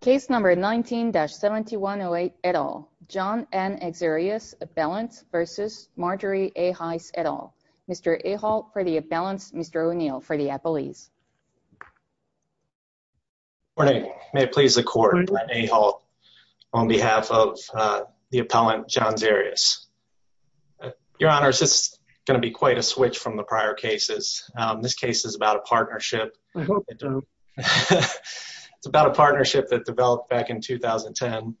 Case number 19-7108, et al. John N. Xereas, appellant v. Marjorie A. Heiss, et al. Mr. Aholt for the appellants, Mr. O'Neill for the appellees. Good morning. May it please the court, I'm Aholt on behalf of the appellant John Xereas. Your Honor, this is going to be quite a switch from the prior cases. This case is about a partnership, it's about a partnership that developed back in 2010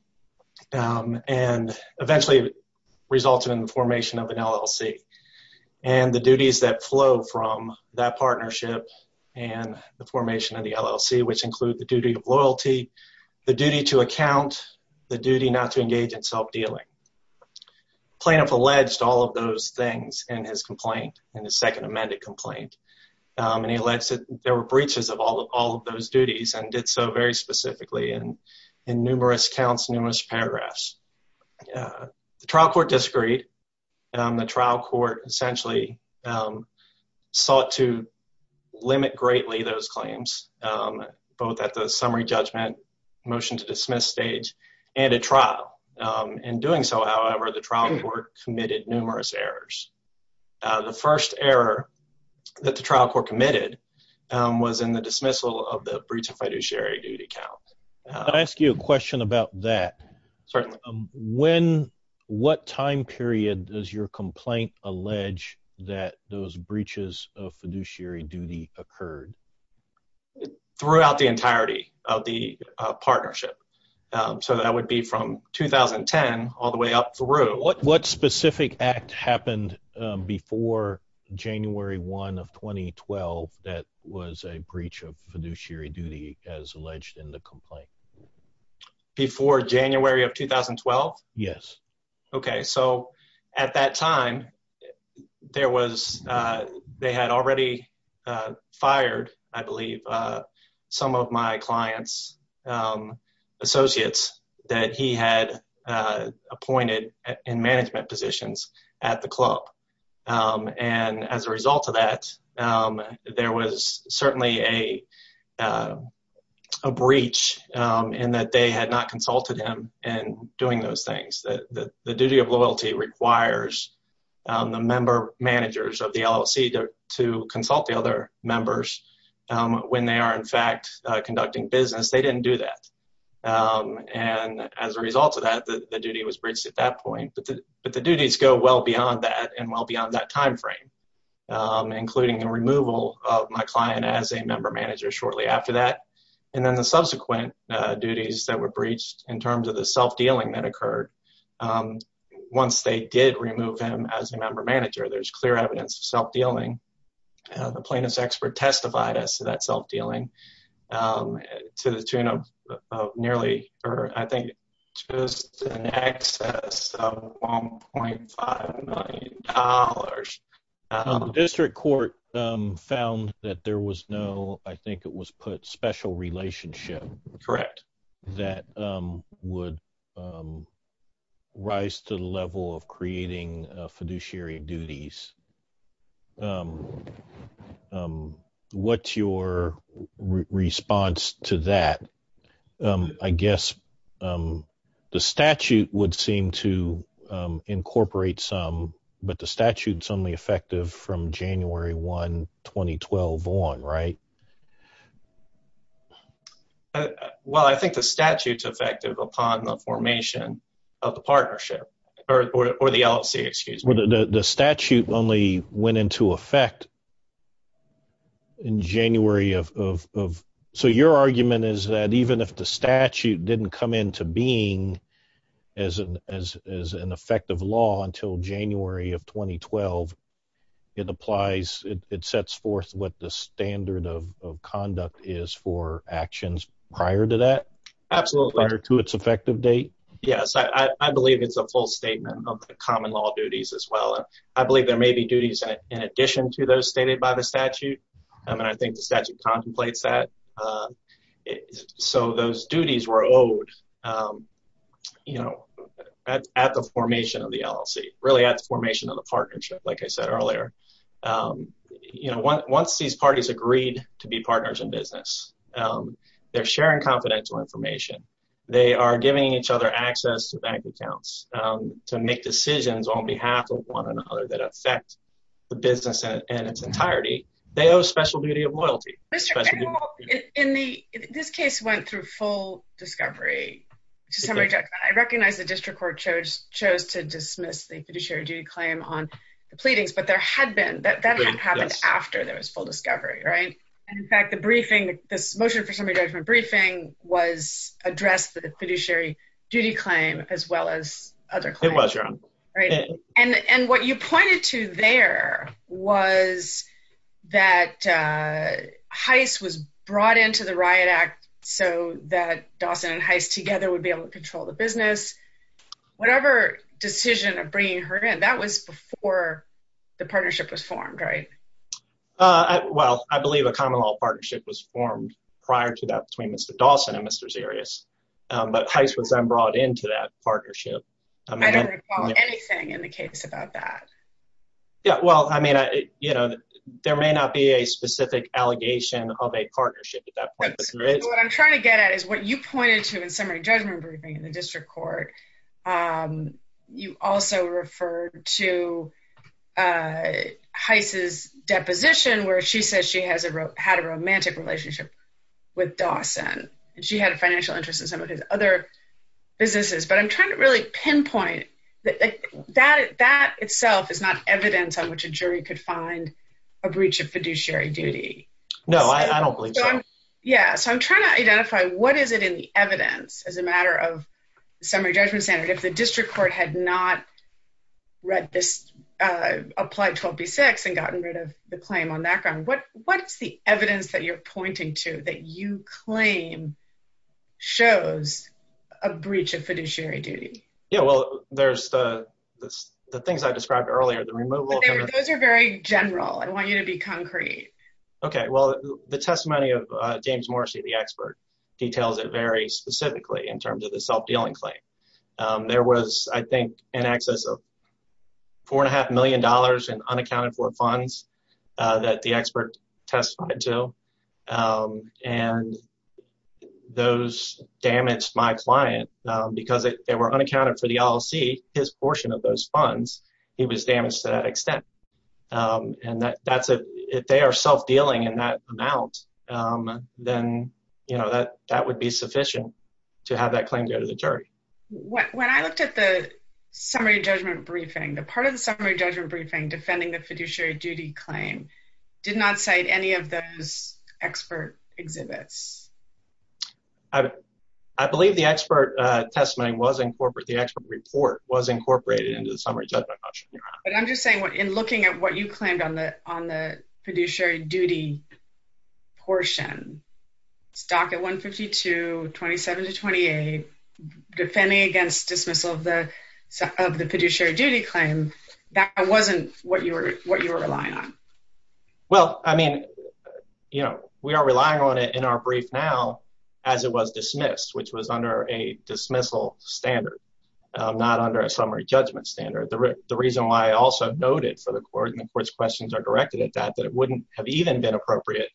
and eventually resulted in the formation of an LLC. And the duties that flow from that partnership and the formation of the LLC, which include the duty of loyalty, the duty to account, the duty not to engage in self-dealing. Plaintiff alleged all of those things in his complaint, in his second amended complaint. And he alleged that there were breaches of all of those duties and did so very specifically in numerous counts, numerous paragraphs. The trial court disagreed. The trial court essentially sought to limit greatly those claims, both at the summary judgment, motion to dismiss stage, and at trial. In doing so, however, the trial court committed numerous errors. The first error that the trial court committed was in the dismissal of the breach of fiduciary duty count. Can I ask you a question about that? Certainly. When, what time period does your complaint allege that those breaches of fiduciary duty occurred? Throughout the entirety of the partnership. So that would be from 2010 all the way up through. What specific act happened before January 1 of 2012 that was a breach of fiduciary duty as alleged in the complaint? Before January of 2012? Yes. Okay, so at that time, there was, they had already fired, I believe, some of my client's associates that he had appointed in management positions at the club. And as a result of that, there was certainly a breach in that they had not consulted him in doing those things. The duty of loyalty requires the member managers of the LLC to consult the other members when they are, in fact, conducting business. They didn't do that. And as a result of that, the duty was breached at that point. But the duties go well beyond that and well beyond that time frame, including the removal of my client as a member manager shortly after that. And then the subsequent duties that were breached in terms of the self-dealing that occurred, once they did remove him as a member manager, there's clear evidence of self-dealing. The plaintiff's expert testified as to that self-dealing to the tune of nearly, or I think just in excess of $1.5 million. The district court found that there was no, I think it was put, special relationship. Correct. That would rise to the level of creating fiduciary duties. What's your response to that? I guess the statute would seem to incorporate some, but the statute's only effective from January 1, 2012 on, right? Well, I think the statute's effective upon the formation of the partnership, or the LLC, excuse me. The statute only went into effect in January of... So your argument is that even if the statute didn't come into being as an effective law until January of 2012, it applies, it sets forth what the standard of conduct is for actions prior to that? Absolutely. Prior to its effective date? Yes, I believe it's a full statement of the common law duties as well. I believe there may be duties in addition to those stated by the statute, and I think the statute contemplates that. So those duties were owed at the formation of the LLC, really at the formation of the partnership, like I said earlier. Once these parties agreed to be partners in business, they're sharing confidential information. They are giving each other access to bank accounts to make decisions on behalf of one another that affect the business in its entirety. They owe special duty of loyalty. Mr. Engel, this case went through full discovery. I recognize the district court chose to dismiss the fiduciary duty claim on the pleadings, but that had happened after there was full discovery, right? In fact, this motion for summary judgment briefing addressed the fiduciary duty claim as well as other claims. It was, Your Honor. And what you pointed to there was that Heiss was brought into the Riot Act so that Dawson and Heiss together would be able to control the business. Whatever decision of bringing her in, that was before the partnership was formed, right? Well, I believe a common law partnership was formed prior to that between Mr. Dawson and Mr. Zarias, but Heiss was then brought into that partnership. I don't recall anything in the case about that. Yeah, well, I mean, you know, there may not be a specific allegation of a partnership at that point. What I'm trying to get at is what you pointed to in summary judgment briefing in the district court. You also referred to Heiss's deposition where she says she had a romantic relationship with Dawson. She had a financial interest in some of his other businesses, but I'm trying to really pinpoint that that itself is not evidence on which a jury could find a breach of fiduciary duty. No, I don't believe so. Yeah, so I'm trying to identify what is it in the evidence as a matter of summary judgment standard. If the district court had not read this, applied 12b-6 and gotten rid of the claim on that ground, what's the evidence that you're pointing to that you claim shows a breach of fiduciary duty? Yeah, well, there's the things I described earlier. Those are very general. I want you to be concrete. Okay, well, the testimony of James Morrissey, the expert, details it very specifically in terms of the self-dealing claim. There was, I think, in excess of $4.5 million in unaccounted for funds that the expert testified to, and those damaged my client because they were unaccounted for the LLC, his portion of those funds. He was damaged to that extent, and if they are self-dealing in that amount, then that would be sufficient to have that claim go to the jury. When I looked at the summary judgment briefing, the part of the summary judgment briefing defending the fiduciary duty claim did not cite any of those expert exhibits. I believe the expert report was incorporated into the summary judgment. I'm just saying, in looking at what you claimed on the fiduciary duty portion, stock at 152, 27 to 28, defending against dismissal of the fiduciary duty claim, that wasn't what you were relying on. Well, I mean, we are relying on it in our brief now as it was dismissed, which was under a dismissal standard, not under a summary judgment standard. The reason why I also noted for the court, and the court's questions are directed at that, that it wouldn't have even been appropriate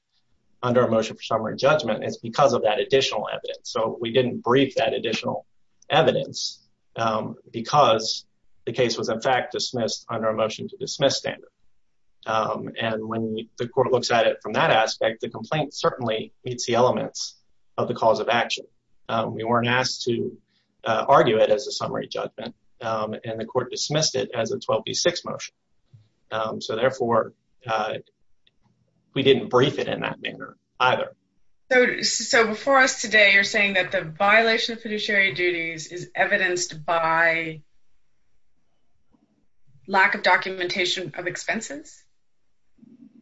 under a motion for summary judgment is because of that additional evidence. So we didn't brief that additional evidence because the case was in fact dismissed under a motion to dismiss standard. And when the court looks at it from that aspect, the complaint certainly meets the elements of the cause of action. We weren't asked to argue it as a summary judgment, and the court dismissed it as a 12B6 motion. So therefore, we didn't brief it in that manner either. So before us today, you're saying that the violation of fiduciary duties is evidenced by lack of documentation of expenses?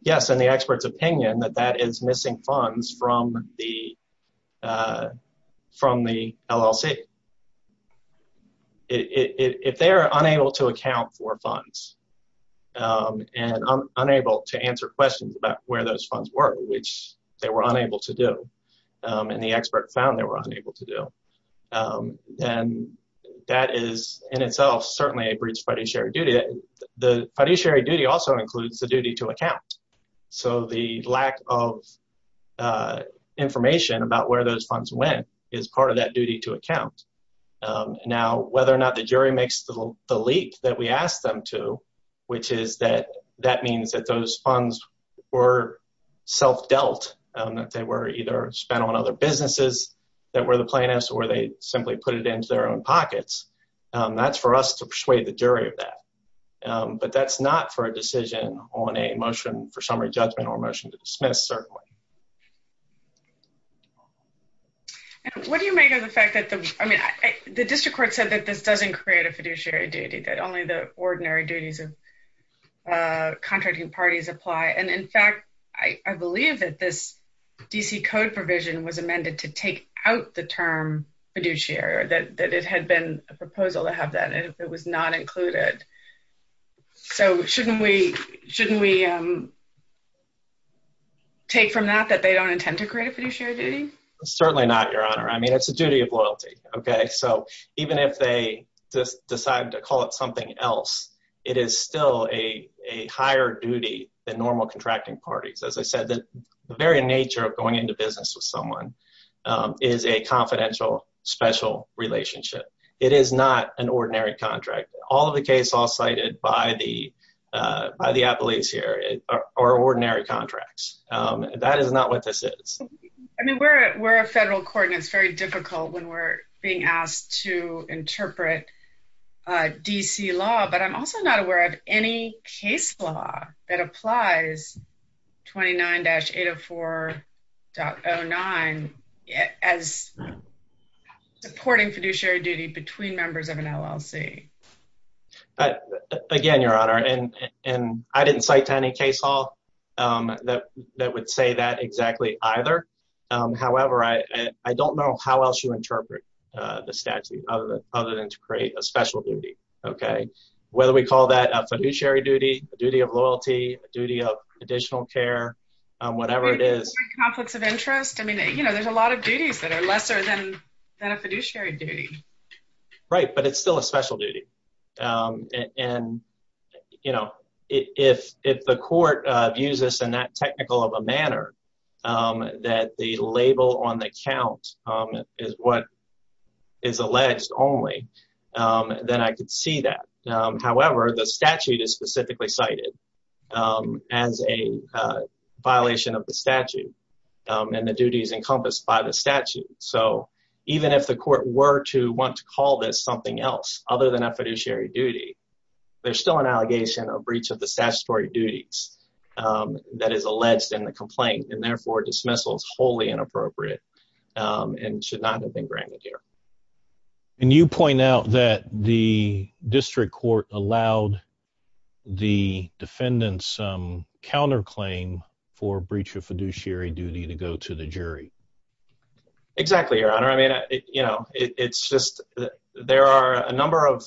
Yes, and the expert's opinion that that is missing funds from the LLC. If they are unable to account for funds and unable to answer questions about where those funds were, which they were unable to do, and the expert found they were unable to do, then that is in itself certainly a breach of fiduciary duty. The fiduciary duty also includes the duty to account. So the lack of information about where those funds went is part of that duty to account. Now, whether or not the jury makes the leap that we asked them to, which is that that means that those funds were self-dealt, that they were either spent on other businesses that were the plaintiffs, or they simply put it into their own pockets, that's for us to persuade the jury of that. But that's not for a decision on a motion for summary judgment or a motion to dismiss, certainly. What do you make of the fact that the district court said that this doesn't create a fiduciary duty, that only the ordinary duties of contracting parties apply? And in fact, I believe that this D.C. Code provision was amended to take out the term fiduciary, that it had been a proposal to have that, and it was not included. So shouldn't we take from that that they don't intend to create a fiduciary duty? Certainly not, Your Honor. I mean, it's a duty of loyalty. Even if they decide to call it something else, it is still a higher duty than normal contracting parties. As I said, the very nature of going into business with someone is a confidential, special relationship. It is not an ordinary contract. All of the cases cited by the appellees here are ordinary contracts. That is not what this is. I mean, we're a federal court, and it's very difficult when we're being asked to interpret D.C. law. But I'm also not aware of any case law that applies 29-804.09 as supporting fiduciary duty between members of an LLC. Again, Your Honor, I didn't cite any case law that would say that exactly either. However, I don't know how else you interpret the statute other than to create a special duty. Whether we call that a fiduciary duty, a duty of loyalty, a duty of additional care, whatever it is. Conflicts of interest? I mean, there's a lot of duties that are lesser than a fiduciary duty. Right, but it's still a special duty. And, you know, if the court views this in that technical of a manner that the label on the count is what is alleged only, then I could see that. However, the statute is specifically cited as a violation of the statute, and the duties encompassed by the statute. So even if the court were to want to call this something else other than a fiduciary duty, there's still an allegation of breach of the statutory duties that is alleged in the complaint, and therefore dismissal is wholly inappropriate and should not have been granted here. And you point out that the district court allowed the defendant's counterclaim for breach of fiduciary duty to go to the jury. Exactly, Your Honor. I mean, you know, it's just there are a number of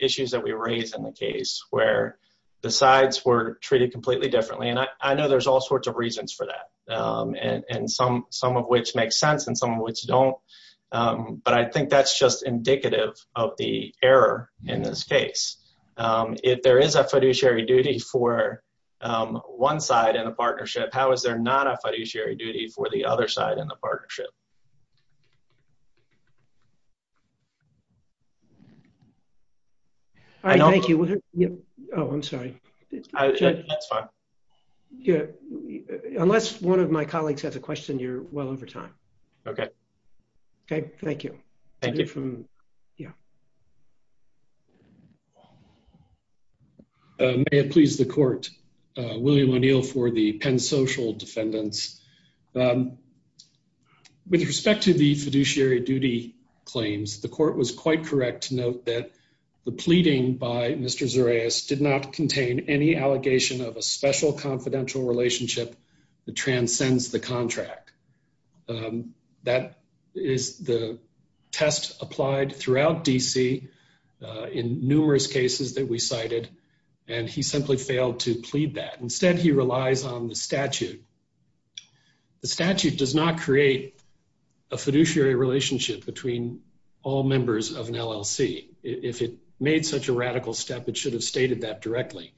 issues that we raise in the case where the sides were treated completely differently. And I know there's all sorts of reasons for that, and some of which make sense and some of which don't. But I think that's just indicative of the error in this case. If there is a fiduciary duty for one side in a partnership, how is there not a fiduciary duty for the other side in the partnership? Thank you. Oh, I'm sorry. That's fine. Unless one of my colleagues has a question, you're well over time. Okay. Okay, thank you. Thank you. Yeah. May it please the court. William O'Neill for the PennSocial defendants. With respect to the fiduciary duty claims, the court was quite correct to note that the pleading by Mr. Zureis did not contain any allegation of a special confidential relationship that transcends the contract. That is the test applied throughout D.C. in numerous cases that we cited, and he simply failed to plead that. Instead, he relies on the statute. The statute does not create a fiduciary relationship between all members of an LLC. If it made such a radical step, it should have stated that directly.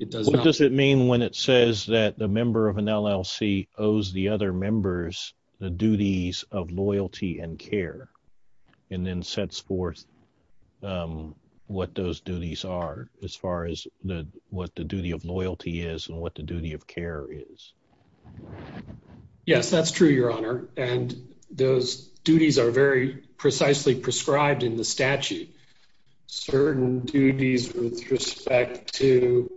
What does it mean when it says that a member of an LLC owes the other members the duties of loyalty and care, and then sets forth what those duties are as far as what the duty of loyalty is and what the duty of care is? Yes, that's true, Your Honor. And those duties are very precisely prescribed in the statute. Certain duties with respect to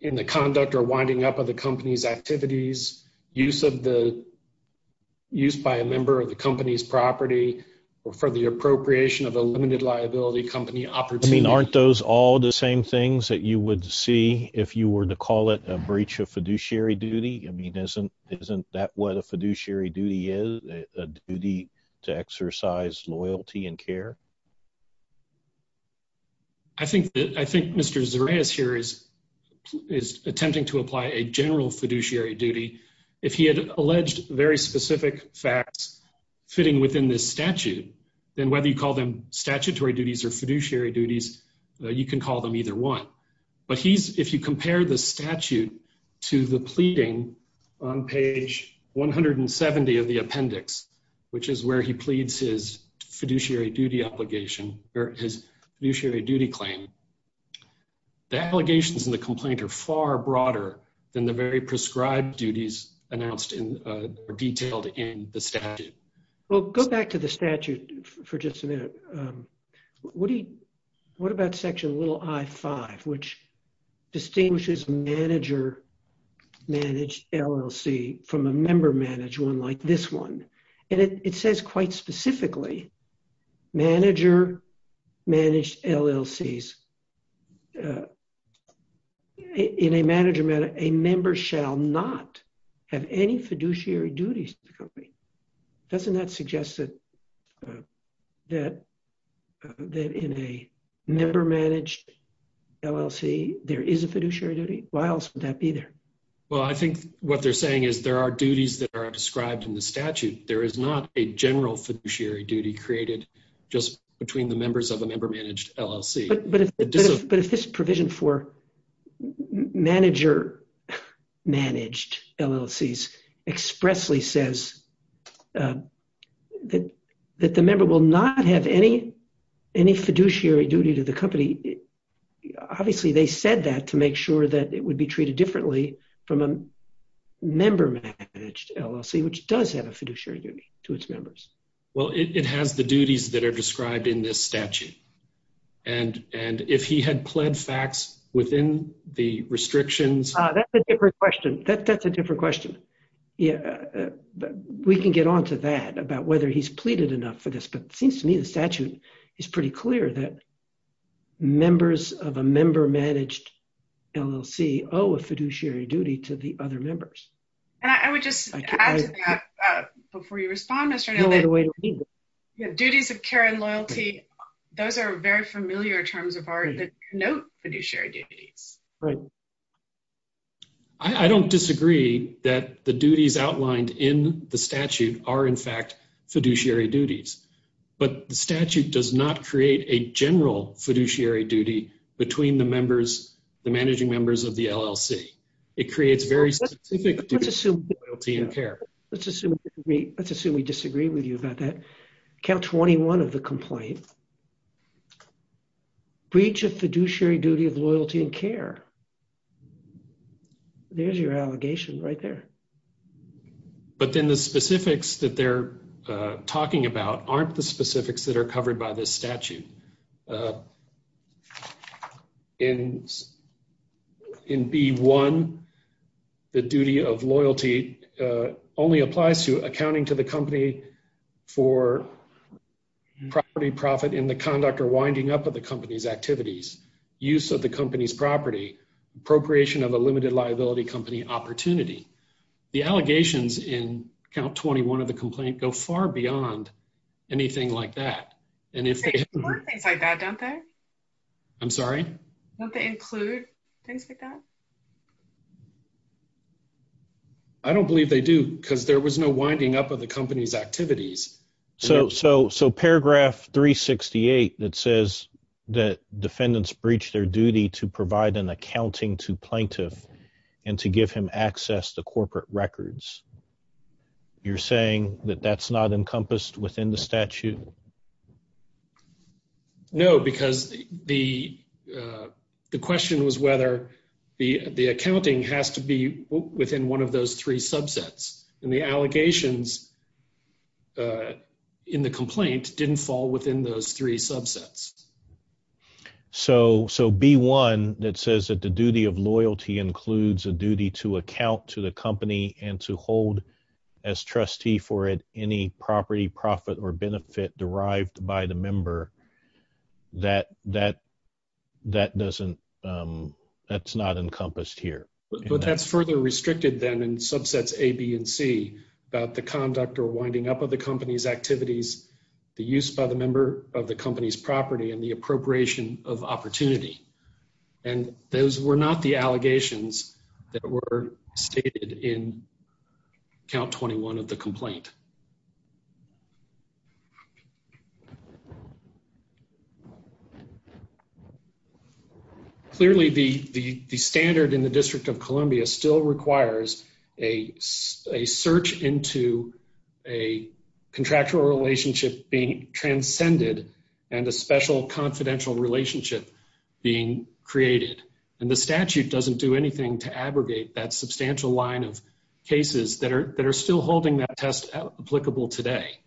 in the conduct or winding up of the company's activities, use by a member of the company's property, or for the appropriation of a limited liability company opportunity. I mean, aren't those all the same things that you would see if you were to call it a breach of fiduciary duty? I mean, isn't that what a fiduciary duty is, a duty to exercise loyalty and care? I think Mr. Zareas here is attempting to apply a general fiduciary duty. If he had alleged very specific facts fitting within this statute, then whether you call them statutory duties or fiduciary duties, you can call them either one. But if you compare the statute to the pleading on page 170 of the appendix, which is where he pleads his fiduciary duty obligation or his fiduciary duty claim, the allegations in the complaint are far broader than the very prescribed duties announced or detailed in the statute. Well, go back to the statute for just a minute. What about section little I-5, which distinguishes manager-managed LLC from a member-managed one like this one? And it says quite specifically, manager-managed LLCs, in a manager matter, a member shall not have any fiduciary duties to the company. Doesn't that suggest that in a member-managed LLC, there is a fiduciary duty? Why else would that be there? Well, I think what they're saying is there are duties that are described in the statute. There is not a general fiduciary duty created just between the members of a member-managed LLC. But if this provision for manager-managed LLCs expressly says that the member will not have any fiduciary duty to the company, obviously they said that to make sure that it would be treated differently from a member-managed LLC, which does have a fiduciary duty to its members. Well, it has the duties that are described in this statute. And if he had pled facts within the restrictions… That's a different question. That's a different question. We can get on to that about whether he's pleaded enough for this, but it seems to me the statute is pretty clear that members of a member-managed LLC owe a fiduciary duty to the other members. And I would just add to that before you respond, Mr. Neal, that duties of care and loyalty, those are very familiar terms of art that denote fiduciary duties. I don't disagree that the duties outlined in the statute are, in fact, fiduciary duties. But the statute does not create a general fiduciary duty between the managing members of the LLC. It creates very specific duties of loyalty and care. Let's assume we disagree with you about that. Count 21 of the complaint. Breach of fiduciary duty of loyalty and care. There's your allegation right there. But then the specifics that they're talking about aren't the specifics that are covered by this statute. In B-1, the duty of loyalty only applies to accounting to the company for property profit in the conduct or winding up of the company's activities, use of the company's property, appropriation of a limited liability company opportunity. The allegations in Count 21 of the complaint go far beyond anything like that. They include things like that, don't they? I'm sorry? Don't they include things like that? I don't believe they do because there was no winding up of the company's activities. So paragraph 368 that says that defendants breach their duty to provide an accounting to plaintiff and to give him access to corporate records. You're saying that that's not encompassed within the statute? No, because the question was whether the accounting has to be within one of those three subsets. And the allegations in the complaint didn't fall within those three subsets. So B-1 that says that the duty of loyalty includes a duty to account to the company and to hold as trustee for any property, profit, or benefit derived by the member, that's not encompassed here. But that's further restricted then in subsets A, B, and C about the conduct or winding up of the company's activities, the use by the member of the company's property, and the appropriation of opportunity. And those were not the allegations that were stated in Count 21 of the complaint. Clearly, the standard in the District of Columbia still requires a search into a contractual relationship being transcended and a special confidential relationship being created. And the statute doesn't do anything to abrogate that substantial line of cases that are still holding that test applicable today.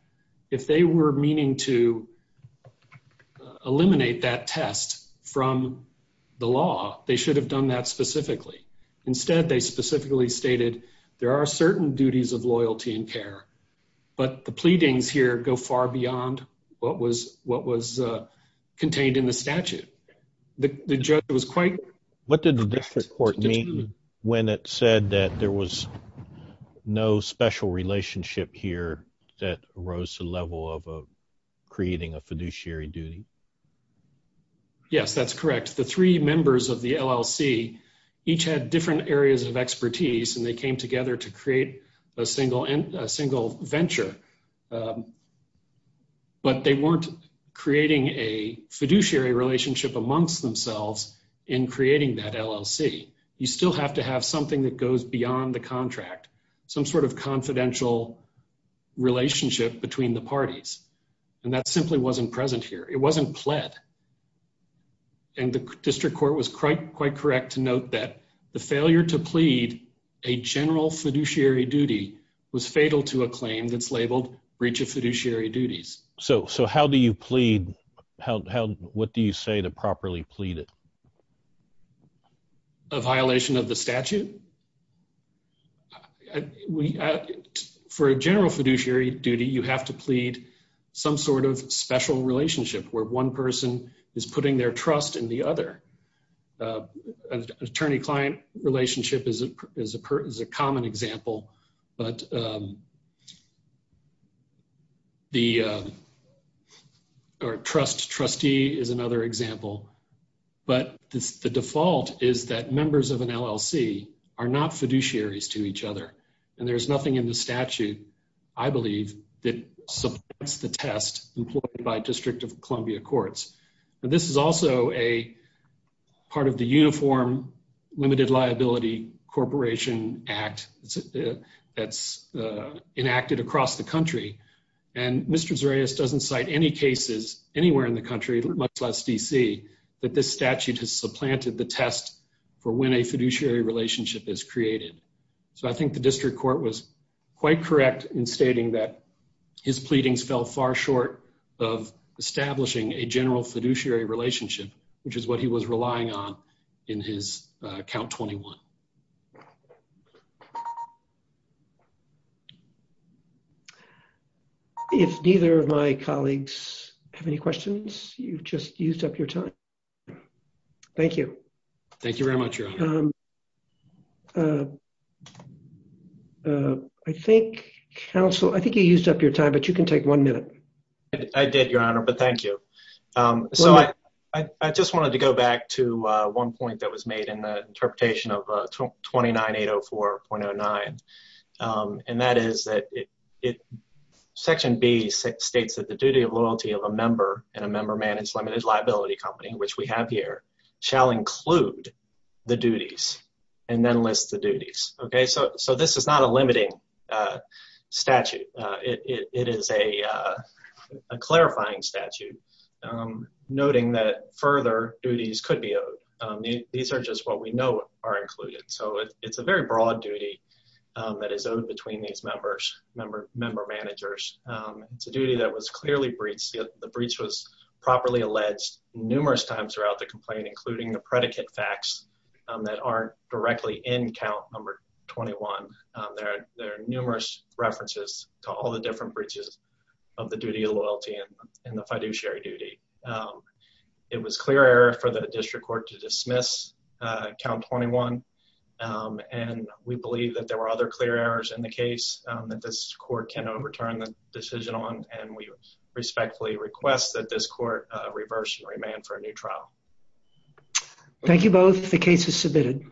If they were meaning to eliminate that test from the law, they should have done that specifically. Instead, they specifically stated there are certain duties of loyalty and care, but the pleadings here go far beyond what was contained in the statute. What did the district court mean when it said that there was no special relationship here that rose to the level of creating a fiduciary duty? Yes, that's correct. In fact, the three members of the LLC each had different areas of expertise, and they came together to create a single venture. But they weren't creating a fiduciary relationship amongst themselves in creating that LLC. You still have to have something that goes beyond the contract, some sort of confidential relationship between the parties. And that simply wasn't present here. It wasn't pled. And the district court was quite correct to note that the failure to plead a general fiduciary duty was fatal to a claim that's labeled breach of fiduciary duties. So how do you plead? What do you say to properly plead it? A violation of the statute? For a general fiduciary duty, you have to plead some sort of special relationship where one person is putting their trust in the other. An attorney-client relationship is a common example. But the trust trustee is another example. But the default is that members of an LLC are not fiduciaries to each other. And there's nothing in the statute, I believe, that supports the test employed by District of Columbia Courts. Now, this is also a part of the Uniform Limited Liability Corporation Act that's enacted across the country. And Mr. Zarias doesn't cite any cases anywhere in the country, much less D.C., that this statute has supplanted the test for when a fiduciary relationship is created. So I think the district court was quite correct in stating that his pleadings fell far short of establishing a general fiduciary relationship, which is what he was relying on in his count 21. If neither of my colleagues have any questions, you've just used up your time. Thank you. Thank you very much, Your Honor. I think, counsel, I think you used up your time, but you can take one minute. I did, Your Honor, but thank you. So I just wanted to go back to one point that was made in the interpretation of 29804.09. And that is that Section B states that the duty of loyalty of a member in a member-managed limited liability company, which we have here, shall include the duties and then list the duties. Okay, so this is not a limiting statute. It is a clarifying statute, noting that further duties could be owed. These are just what we know are included. So it's a very broad duty that is owed between these members, member managers. It's a duty that was clearly breached. The breach was properly alleged numerous times throughout the complaint, including the predicate facts that aren't directly in count number 21. There are numerous references to all the different breaches of the duty of loyalty and the fiduciary duty. It was clear error for the district court to dismiss count 21. And we believe that there were other clear errors in the case that this court can overturn the decision on. And we respectfully request that this court reverse and remand for a new trial. Thank you both. The case is submitted.